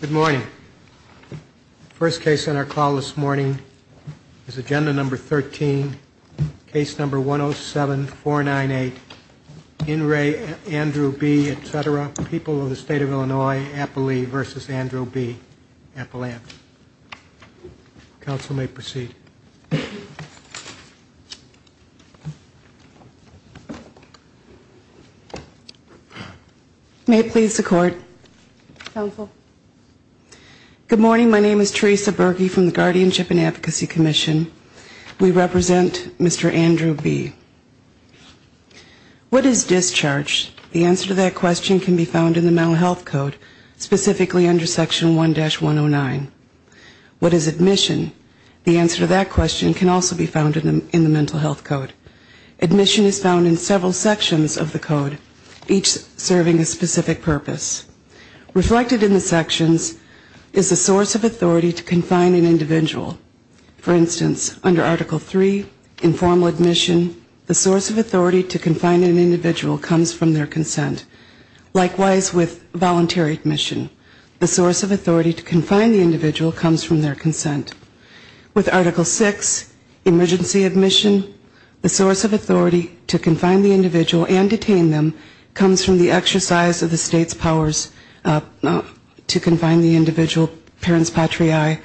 Good morning. First case on our call this morning is agenda number 13 case number 107498 in re Andrew B etc people of the state of Illinois Appley versus Good morning. My name is Teresa Berkey from the Guardianship and Advocacy Commission. We represent Mr. Andrew B. What is discharge? The answer to that question can be found in the Mental Health Code, specifically under Section 1-109. What is admission? The answer to that question can also be found in the Mental Health Code. Admission is found in several sections of the code, each serving a specific purpose. Reflected in the sections is the source of authority to confine an individual. For instance, under Article 3, informal admission, the source of authority to confine an individual comes from their consent. Likewise with voluntary admission, the source of authority to confine the individual comes from their consent. With Article 6, emergency admission, the source of authority to confine the individual and detain them comes from the exercise of the state's powers to confine the individual, parents patriae,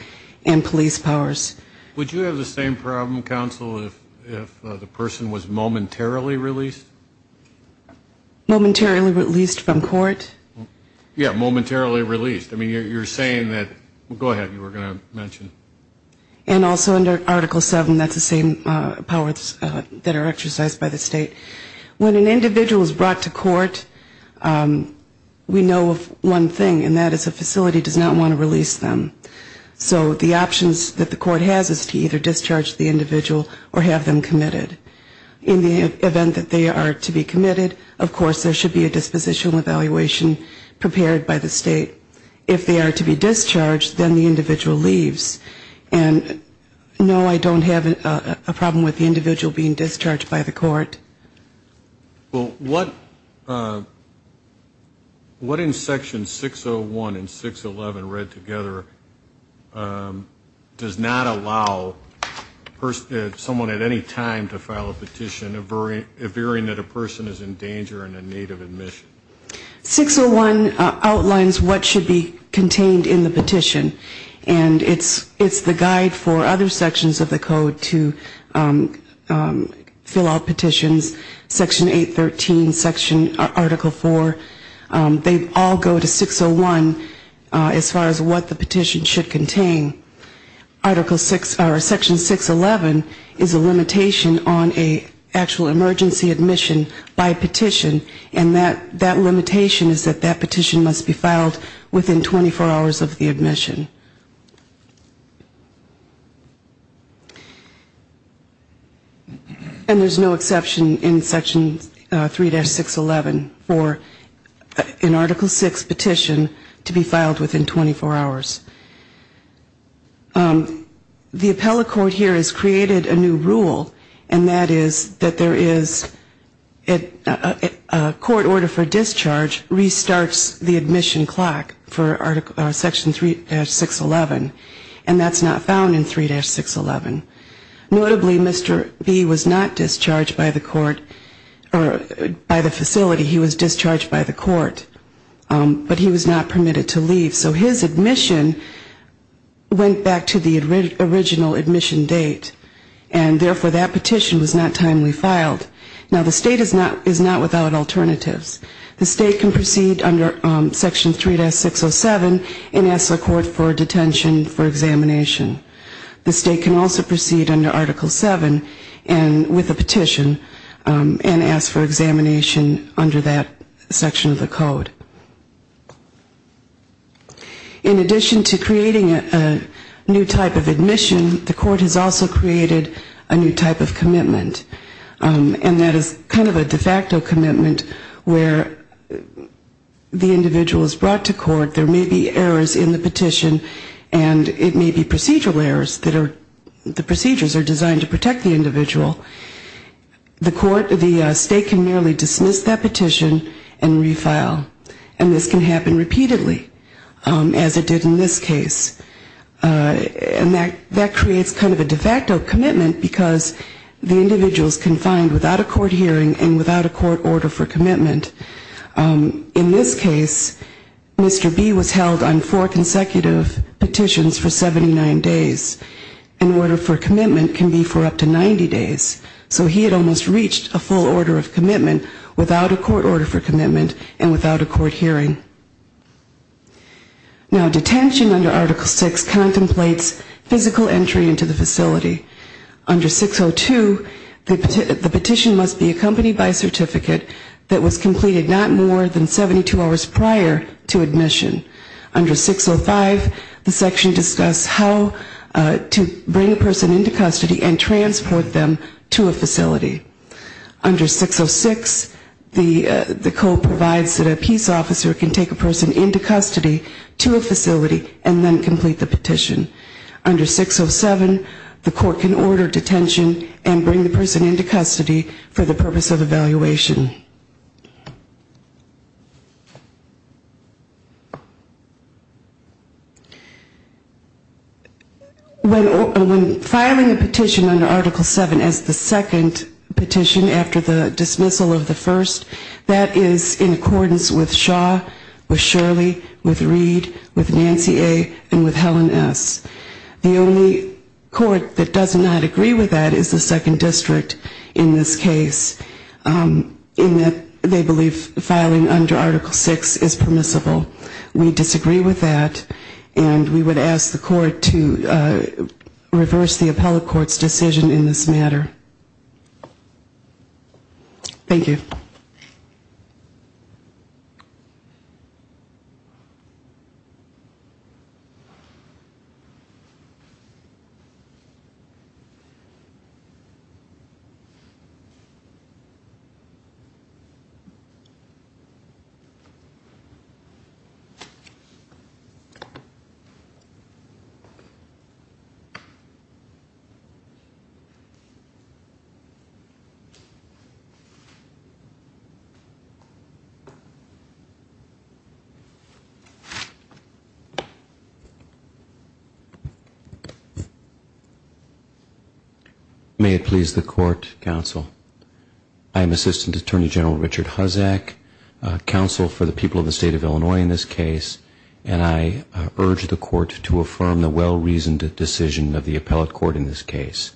and police powers. Would you have the same problem, counsel, if the person was momentarily released? Momentarily released from court? Yeah, momentarily released. I mean, you're saying that, go ahead, you were going to mention. And also under Article 7, that's the same powers that are exercised by the state. When an individual is brought to court, we know of one thing, and that is a facility does not want to release them. So the options that the court has is to either discharge the individual or have them committed. In the event that they are to be committed, of course there should be a dispositional evaluation prepared by the state. If they are to be discharged, then the individual leaves. And no, I don't have a problem with the individual being discharged by the court. Well, what in Section 601 and 611 read together does not allow someone at any time to file a petition, a varying that a person is in danger and in need of admission? 601 outlines what should be contained in the petition. And it's the guide for other sections of the code to fill out petitions, Section 813, Section Article 4. They all go to 601 as far as what the petition should contain. Article 6 or Section 611 is a limitation on an actual emergency admission by petition. And that limitation is that that petition must be filed within 24 hours of the admission. And there's no exception in Section 3-611 for an Article 6 petition to be filed within 24 hours. The appellate court here has created a new rule, and that is that there is a petition that is not subject to an emergency admission. A court order for discharge restarts the admission clock for Section 3-611, and that's not found in 3-611. Notably, Mr. B was not discharged by the court or by the facility, he was discharged by the court, but he was not permitted to leave. So his admission went back to the original admission date, and therefore that petition was not timely filed. Now the state is not without alternatives. The state can proceed under Section 3-607 and ask the court for detention for examination. The state can also proceed under Article 7 with a petition and ask for examination under that section of the code. In addition to creating a new type of admission, the court has also created a new type of commitment. And that is kind of a de facto commitment where the individual is brought to court, there may be errors in the petition, and it may be procedural errors that are, the procedures are designed to protect the individual. The court, the state can merely dismiss that petition and refile. And this can happen repeatedly, as it did in this case. And that creates kind of a de facto commitment because the individual is confined without a court hearing and without a court order for commitment. In this case, Mr. B was held on four consecutive petitions for 79 days. An order for commitment can be for up to 90 days. So he had almost reached a full order of commitment without a court order for commitment and without a court hearing. Now, detention under Article 6 contemplates physical entry into the facility. Under 602, the petition must be accompanied by a certificate that was completed not more than 72 hours prior to admission. Under 605, the section discusses how to bring a person into custody and transport them to a facility. Under 606, the code provides that a peace officer can take the person into custody. To a facility and then complete the petition. Under 607, the court can order detention and bring the person into custody for the purpose of evaluation. When filing a petition under Article 7 as the second petition after the dismissal of the first, that is in accordance with Shaw. With Shirley, with Reed, with Nancy A., and with Helen S. The only court that does not agree with that is the second district in this case in that they believe filing under Article 6 is permissible. We disagree with that and we would ask the court to reverse the appellate court's decision in this matter. Thank you. May it please the court, counsel. I am Assistant Attorney General Richard Huzzack, counsel for the people of the state of Illinois in this case, and I urge the court to affirm the well-reasoned decision of the appellate court in this case.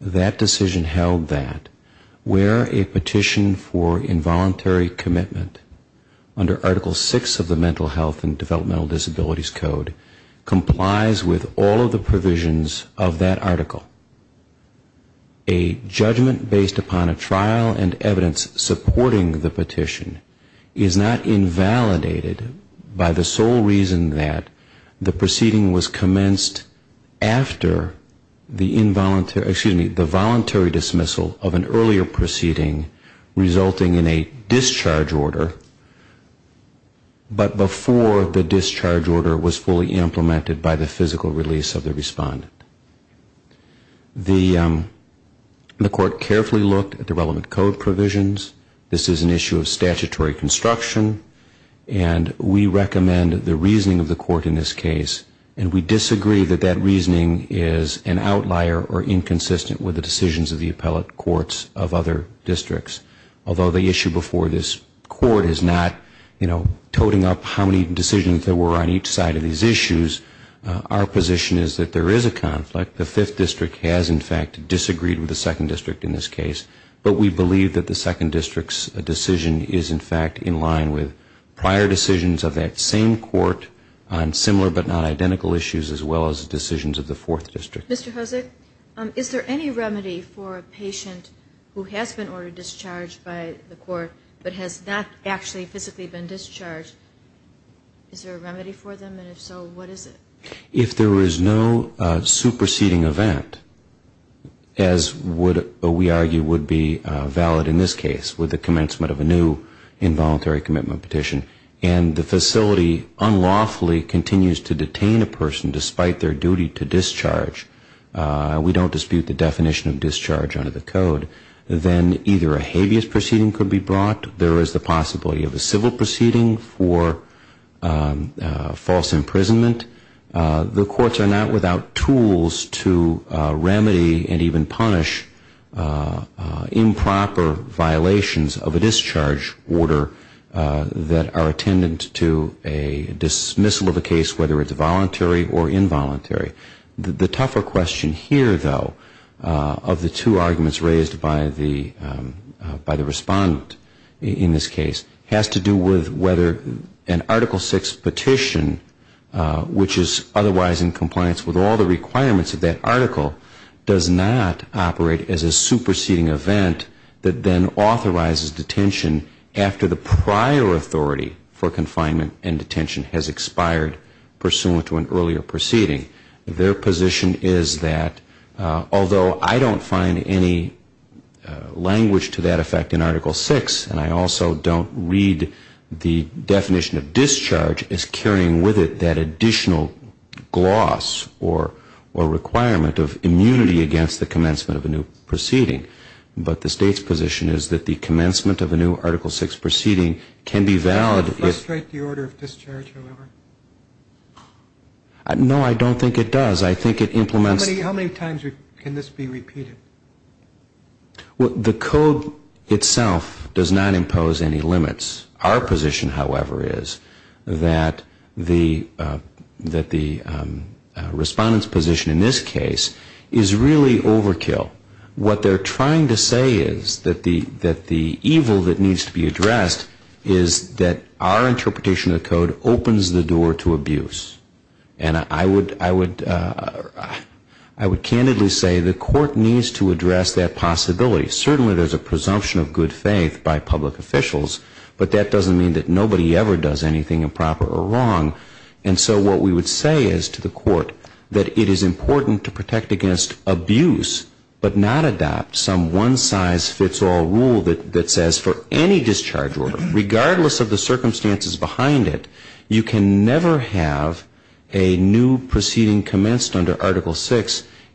That decision held that where a petition for involuntary commitment under Article 6 of the Mental Health and Developmental Disabilities Code complies with all of the provisions of that article. A judgment based upon a trial and evidence supporting the petition is not invalidated by the sole reason that the proceeding was voluntary dismissal of an earlier proceeding resulting in a discharge order, but before the discharge order was fully implemented by the physical release of the respondent. The court carefully looked at the relevant code provisions. This is an issue of statutory construction. And we recommend the reasoning of the court in this case, and we disagree that that reasoning is an outlier or incomplete. We are consistent with the decisions of the appellate courts of other districts. Although the issue before this court is not, you know, toting up how many decisions there were on each side of these issues, our position is that there is a conflict. The Fifth District has, in fact, disagreed with the Second District in this case. But we believe that the Second District's decision is, in fact, in line with prior decisions of that same court on similar but not identical issues as well as decisions of the Fourth District. Mr. Hosek, is there any remedy for a patient who has been ordered discharged by the court but has not actually physically been discharged? Is there a remedy for them? And if so, what is it? If there is no superseding event, as we argue would be valid in this case with the commencement of a new involuntary commitment petition, and the facility unlawfully continues to detain a person despite their duty to discharge, we don't dispute the definition of discharge under the code, then either a habeas proceeding could be brought. There is the possibility of a civil proceeding for false imprisonment. The courts are not without tools to remedy and even punish improper violations of a discharge order that are attendant to a discharge order. There is a dismissal of a case, whether it's voluntary or involuntary. The tougher question here, though, of the two arguments raised by the respondent in this case has to do with whether an Article VI petition, which is otherwise in compliance with all the requirements of that article, does not operate as a superseding event that then authorizes detention after the prior authority for confinement and detention. The state's position is that the commencement of a new article VI proceeding can be valid if the order of discharge has expired pursuant to an earlier proceeding. Their position is that, although I don't find any language to that effect in Article VI, and I also don't read the definition of discharge as carrying with it that additional gloss or requirement of immunity against the commencement of a new proceeding, but the state's position is that the commencement of a new Article VI proceeding can be valid if the order of discharge has expired pursuant to an earlier proceeding. I think it implements... How many times can this be repeated? The code itself does not impose any limits. Our position, however, is that the respondent's position in this case is really overkill. What they're trying to say is that the evil that needs to be addressed is that our interpretation of the code opens the door to abuse. And I would candidly say the court needs to address that possibility. Certainly there's a presumption of good faith by public officials, but that doesn't mean that nobody ever does anything improper or wrong. And so what we would say is to the court that it is important to protect against abuse, but not abuse. But not adopt some one-size-fits-all rule that says for any discharge order, regardless of the circumstances behind it, you can never have a new proceeding commenced under Article VI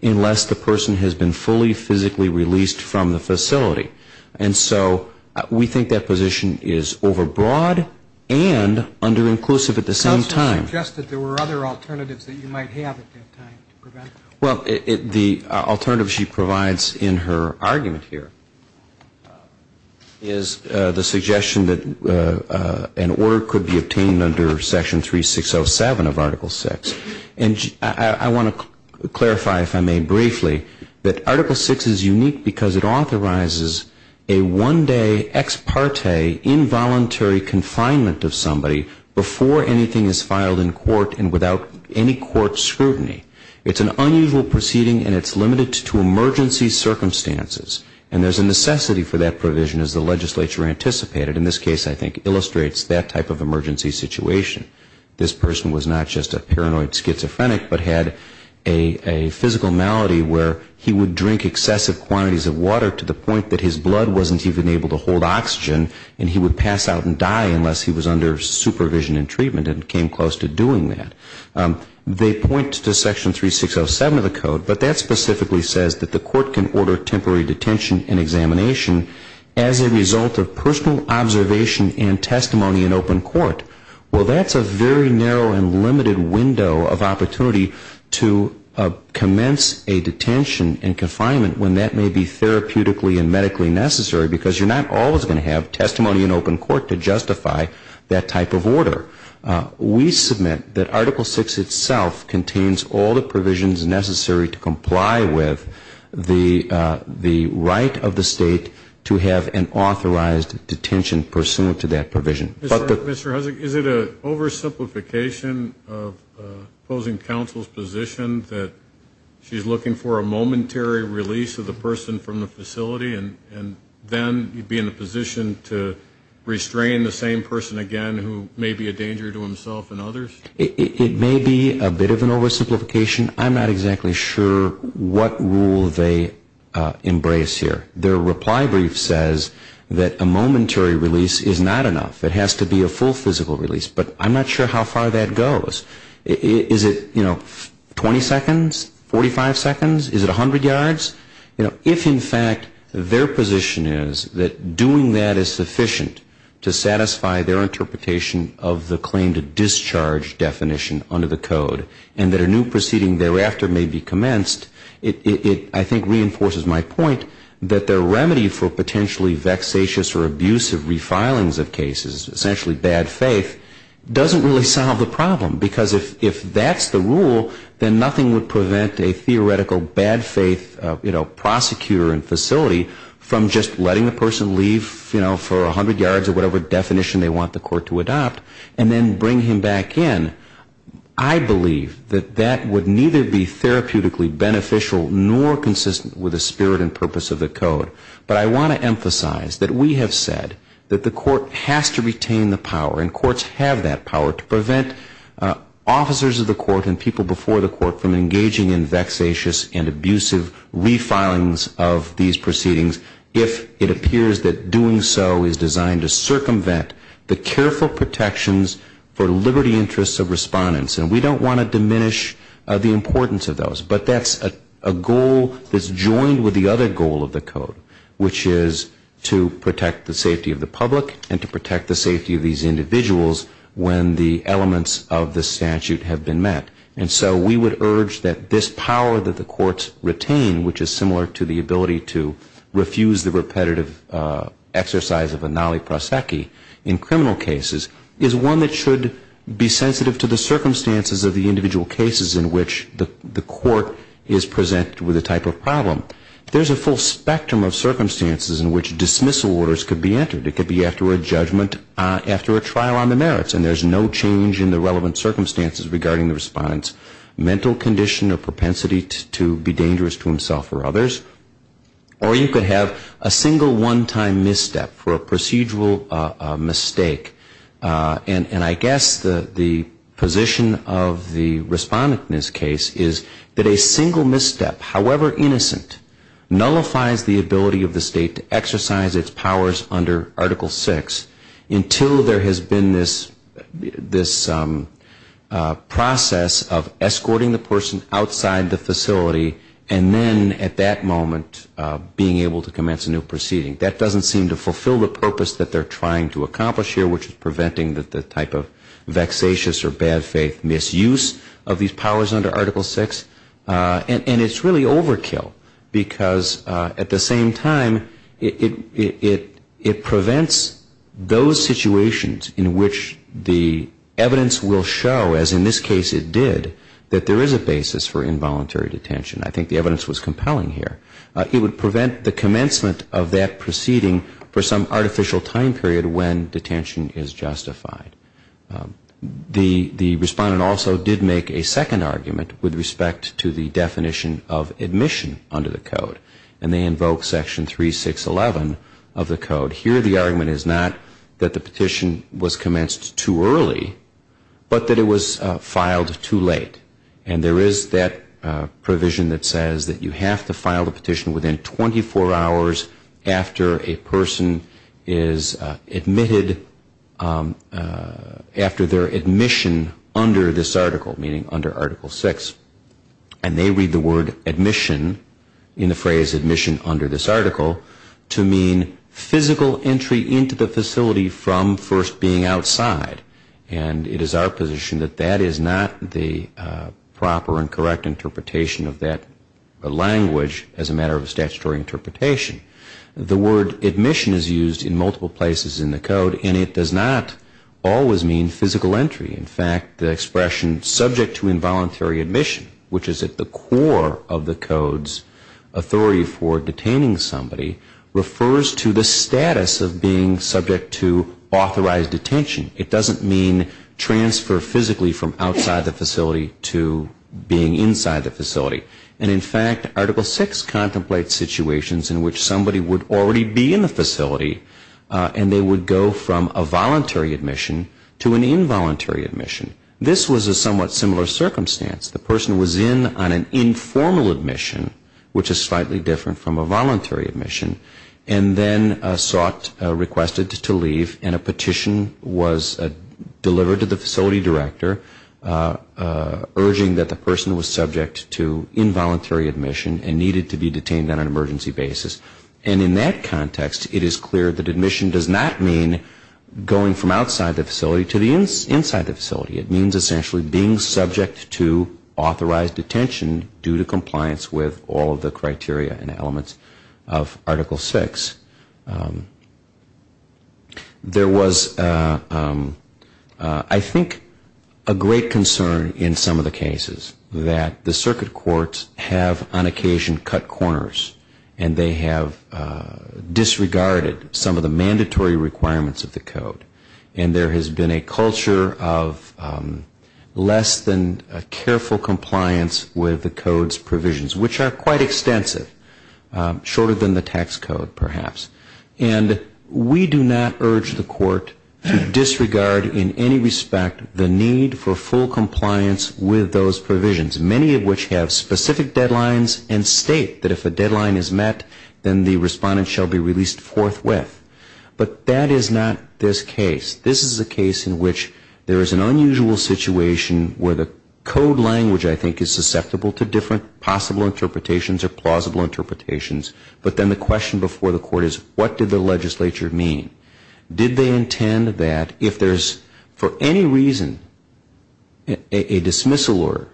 unless the person has been fully physically released from the facility. And so we think that position is overbroad and under-inclusive at the same time. Counselor suggested there were other alternatives that you might have at that time to prevent that. Well, the alternative she provides in her argument here is the suggestion that an order could be obtained under Section 3607 of Article VI. And I want to clarify, if I may, briefly, that Article VI is unique because it authorizes a one-day ex parte involuntary confinement of somebody before anything is filed in court and without any court scrutiny. It's an unusual proceeding and it's limited to emergency circumstances. And there's a necessity for that provision, as the legislature anticipated, and this case, I think, illustrates that type of emergency situation. This person was not just a paranoid schizophrenic, but had a physical malady where he would drink excessive quantities of water to the point that his blood wasn't even able to hold oxygen and he would pass out and die unless he was under supervision and treatment and came close to doing that. They point to Section 3607 of the code, but that specifically says that the court can order temporary detention and examination as a result of personal observation and testimony in open court. Well, that's a very narrow and limited window of opportunity to commence a detention and confinement when that may be therapeutically and medically necessary, because you're not always going to have testimony in open court to justify that type of order. We submit that Article VI itself contains all the provisions necessary to comply with the right of the state to have an authorized detention pursuant to that provision. Mr. Hussock, is it an oversimplification of opposing counsel's position that she's looking for a momentary release of the person from the facility and then be in a position to restrain the same person again who may be a danger to himself and others? It may be a bit of an oversimplification. I'm not exactly sure what rule they embrace here. Their reply brief says that a momentary release is not enough. It has to be a full physical release. But I'm not sure how far that goes. Is it, you know, 20 seconds, 45 seconds? Is it 100 yards? You know, if in fact their position is that doing that is sufficient to satisfy their interpretation of the claim to discharge definition under the code and that a new proceeding thereafter may be commenced, it, I think, reinforces my point that their remedy for potentially vexatious or abusive refilings of cases, essentially bad faith, doesn't really solve the problem, because if that's the rule, then nothing would prevent a theoretical bad faith prosecutor in a facility from just letting the person leave for 100 yards or whatever definition they want the court to adopt and then bring him back in. I believe that that would neither be therapeutically beneficial nor consistent with the spirit and purpose of the code. But I want to emphasize that we have said that the court has to retain the power and courts have that power to prevent officers of the court and people before the court from engaging in vexatious and abusive refilings of these proceedings if it appears that doing so is designed to circumvent the careful protections for liberty interests of respondents. And we don't want to diminish the importance of those, but that's a goal that's joined with the other goal of the code, which is to protect the safety of the public and to protect the safety of these individuals when the elements of the statute have been met. And so we would urge that this power that the courts retain, which is similar to the ability to refuse the repetitive exercise of a naliprasakhi in criminal cases, is one that should be sensitive to the circumstances of the individual cases in which the court is presented with a type of problem. There's a full spectrum of circumstances in which dismissal orders could be entered. It could be after a judgment, after a trial on the merits, and after a judgment, mental condition or propensity to be dangerous to himself or others, or you could have a single one-time misstep for a procedural mistake. And I guess the position of the respondent in this case is that a single misstep, however innocent, nullifies the ability of the state to exercise its powers under Article VI until there has been this process of a single one-time misstep. It's a process of escorting the person outside the facility and then at that moment being able to commence a new proceeding. That doesn't seem to fulfill the purpose that they're trying to accomplish here, which is preventing the type of vexatious or bad faith misuse of these powers under Article VI. And it's really overkill, because at the same time, it prevents those situations in which the evidence will show, as in this case it did, that there is a basis for involuntary detention. I think the evidence was compelling here. It would prevent the commencement of that proceeding for some artificial time period when detention is justified. The respondent also did make a second argument with respect to the definition of admission under the Code, and they invoke Section 3611 of the Code. Here the argument is not that the person was admitted, but that it was filed too late. And there is that provision that says that you have to file the petition within 24 hours after a person is admitted, after their admission under this article, meaning under Article VI. And they read the word admission, in the phrase admission under this article, to mean physical entry into the facility from first being outside. And it is our observation that that is not the proper and correct interpretation of that language as a matter of statutory interpretation. The word admission is used in multiple places in the Code, and it does not always mean physical entry. In fact, the expression subject to involuntary admission, which is at the core of the Code's authority for detaining somebody, refers to the status of being subject to admission, basically from outside the facility to being inside the facility. And in fact, Article VI contemplates situations in which somebody would already be in the facility, and they would go from a voluntary admission to an involuntary admission. This was a somewhat similar circumstance. The person was in on an informal admission, which is slightly different from a voluntary admission, and then sought, requested to leave, and a petition was delivered to the facility director urging that the person was subject to involuntary admission and needed to be detained on an emergency basis. And in that context, it is clear that admission does not mean going from outside the facility to being inside the facility. It means essentially being subject to authorized detention due to compliance with all of the regulations. There was, I think, a great concern in some of the cases that the circuit courts have, on occasion, cut corners, and they have disregarded some of the mandatory requirements of the Code. And there has been a culture of less than careful compliance with the Code's provisions, which are quite extensive, shorter than the tax code, perhaps. And there has been a culture of less than careful compliance with the Code's provisions. We do not urge the Court to disregard in any respect the need for full compliance with those provisions, many of which have specific deadlines and state that if a deadline is met, then the respondent shall be released forthwith. But that is not this case. This is a case in which there is an unusual situation where the Code language, I think, is susceptible to different possible interpretations or plausible interpretations. But then the question before the Court is, what did the legislature mean? Did they intend that if there is for any reason a dismissal order,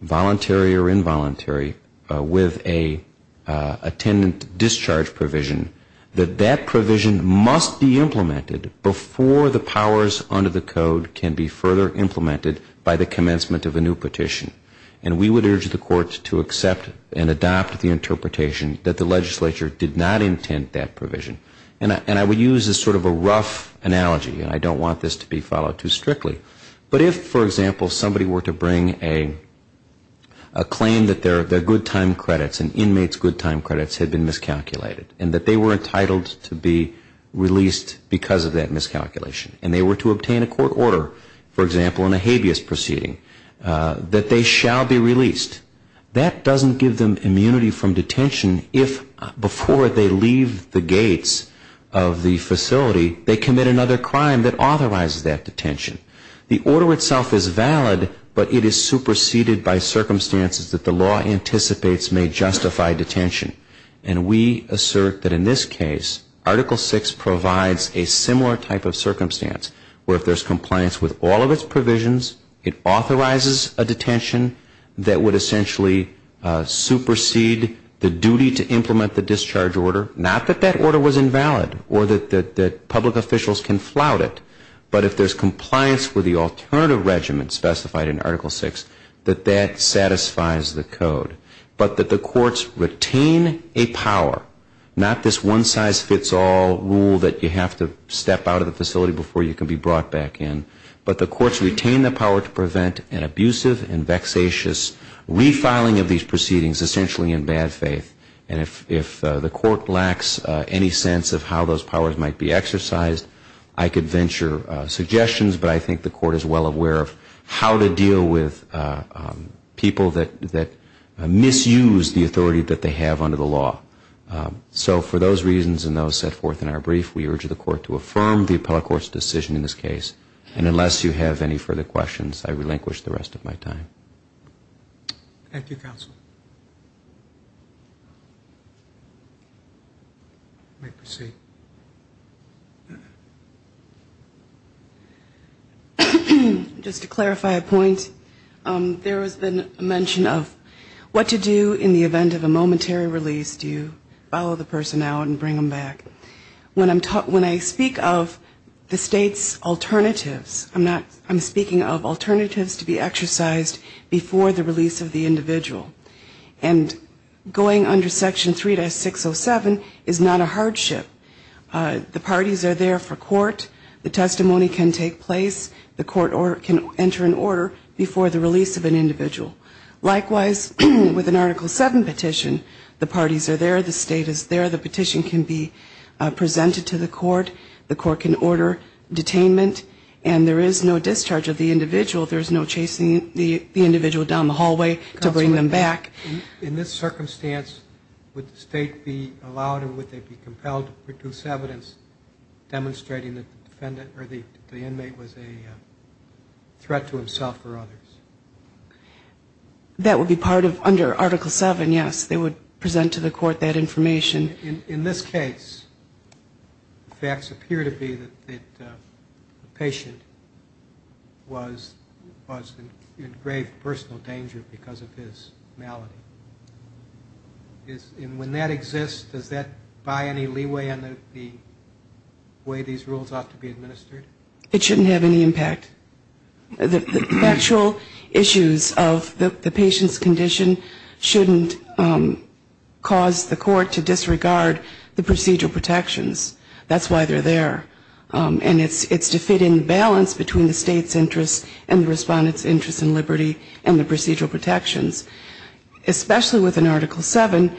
voluntary or involuntary, with an attendant discharge provision, that that provision must be implemented before the powers under the Code can be further implemented by the commencement of a new petition? And we would urge the Court to accept and adopt the interpretation that the legislature did not intend that would use as sort of a rough analogy. And I don't want this to be followed too strictly. But if, for example, somebody were to bring a claim that their good time credits and inmates' good time credits had been miscalculated and that they were entitled to be released because of that miscalculation, and they were to obtain a court order, for example, in a habeas proceeding, that they shall be released. That doesn't give them immunity from detention if before they leave the gates of the detention facility, the facility, they commit another crime that authorizes that detention. The order itself is valid, but it is superseded by circumstances that the law anticipates may justify detention. And we assert that in this case, Article VI provides a similar type of circumstance where if there's compliance with all of its provisions, it authorizes a detention that would essentially supersede the detention facility. And we assert that that public officials can flout it. But if there's compliance with the alternative regiment specified in Article VI, that that satisfies the code. But that the courts retain a power, not this one-size-fits-all rule that you have to step out of the facility before you can be brought back in, but the courts retain the power to prevent an abusive and vexatious refiling of these proceedings, essentially in bad faith. And if the court lacks any sense of how those powers might be exercised, I could venture suggestions, but I think the court is well aware of how to deal with people that misuse the authority that they have under the law. So for those reasons and those set forth in our brief, we urge the court to affirm the appellate court's decision in this case. And unless you have any further questions, I relinquish the rest of my time. Thank you, Counsel. Just to clarify a point, there has been a mention of what to do in the event of a momentary release. Do you follow the personnel and bring them back? When I speak of the state's alternatives, I'm speaking of alternatives to be exercised before the release of the individual. And going under Section 3-607 is not a hardship. The part of Section 3-607 is not a hardship. The parties are there for court. The testimony can take place. The court can enter an order before the release of an individual. Likewise, with an Article 7 petition, the parties are there. The state is there. The petition can be presented to the court. The court can order detainment. And there is no discharge of the individual. There's no chasing the individual down the hallway to bring them back. In this circumstance, would the state be allowed or would they be compelled to produce evidence demonstrating that the defendant or the inmate was a threat to himself or others? That would be part of under Article 7, yes. They would present to the court that information. In this case, the facts appear to be that the patient was in grave personal danger because of his malice. And when that exists, does that buy any leeway on the way these rules ought to be administered? It shouldn't have any impact. The factual issues of the patient's condition shouldn't cause the court to disregard the procedural protections. That's why they're there. And it's to fit in balance between the state's interests and the court's interests. Especially with an Article 7,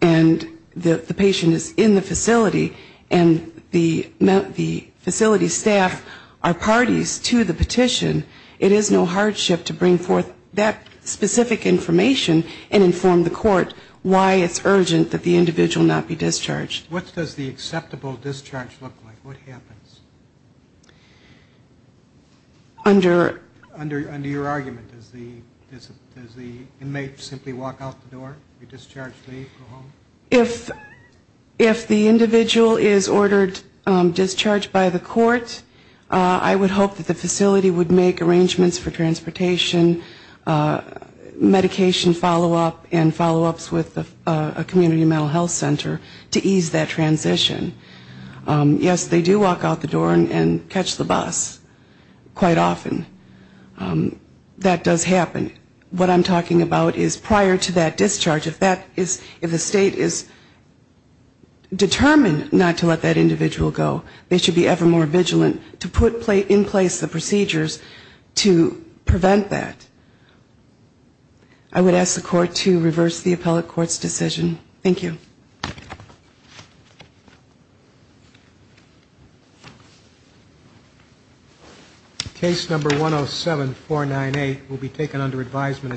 and the patient is in the facility, and the facility staff are parties to the petition, it is no hardship to bring forth that specific information and inform the court why it's urgent that the individual not be discharged. What does the acceptable discharge look like? What happens? Under your argument, does the inmate simply walk off the street? Walk out the door? Be discharged? Leave? Go home? If the individual is ordered discharged by the court, I would hope that the facility would make arrangements for transportation, medication follow-up, and follow-ups with a community mental health center to ease that transition. Yes, they do walk out the door and catch the bus quite often. That does happen. And what I'm talking about is prior to that discharge, if that is, if the state is determined not to let that individual go, they should be ever more vigilant to put in place the procedures to prevent that. I would ask the court to reverse the appellate court's decision. Thank you. Case number 107498 will be taken under advisement at this time.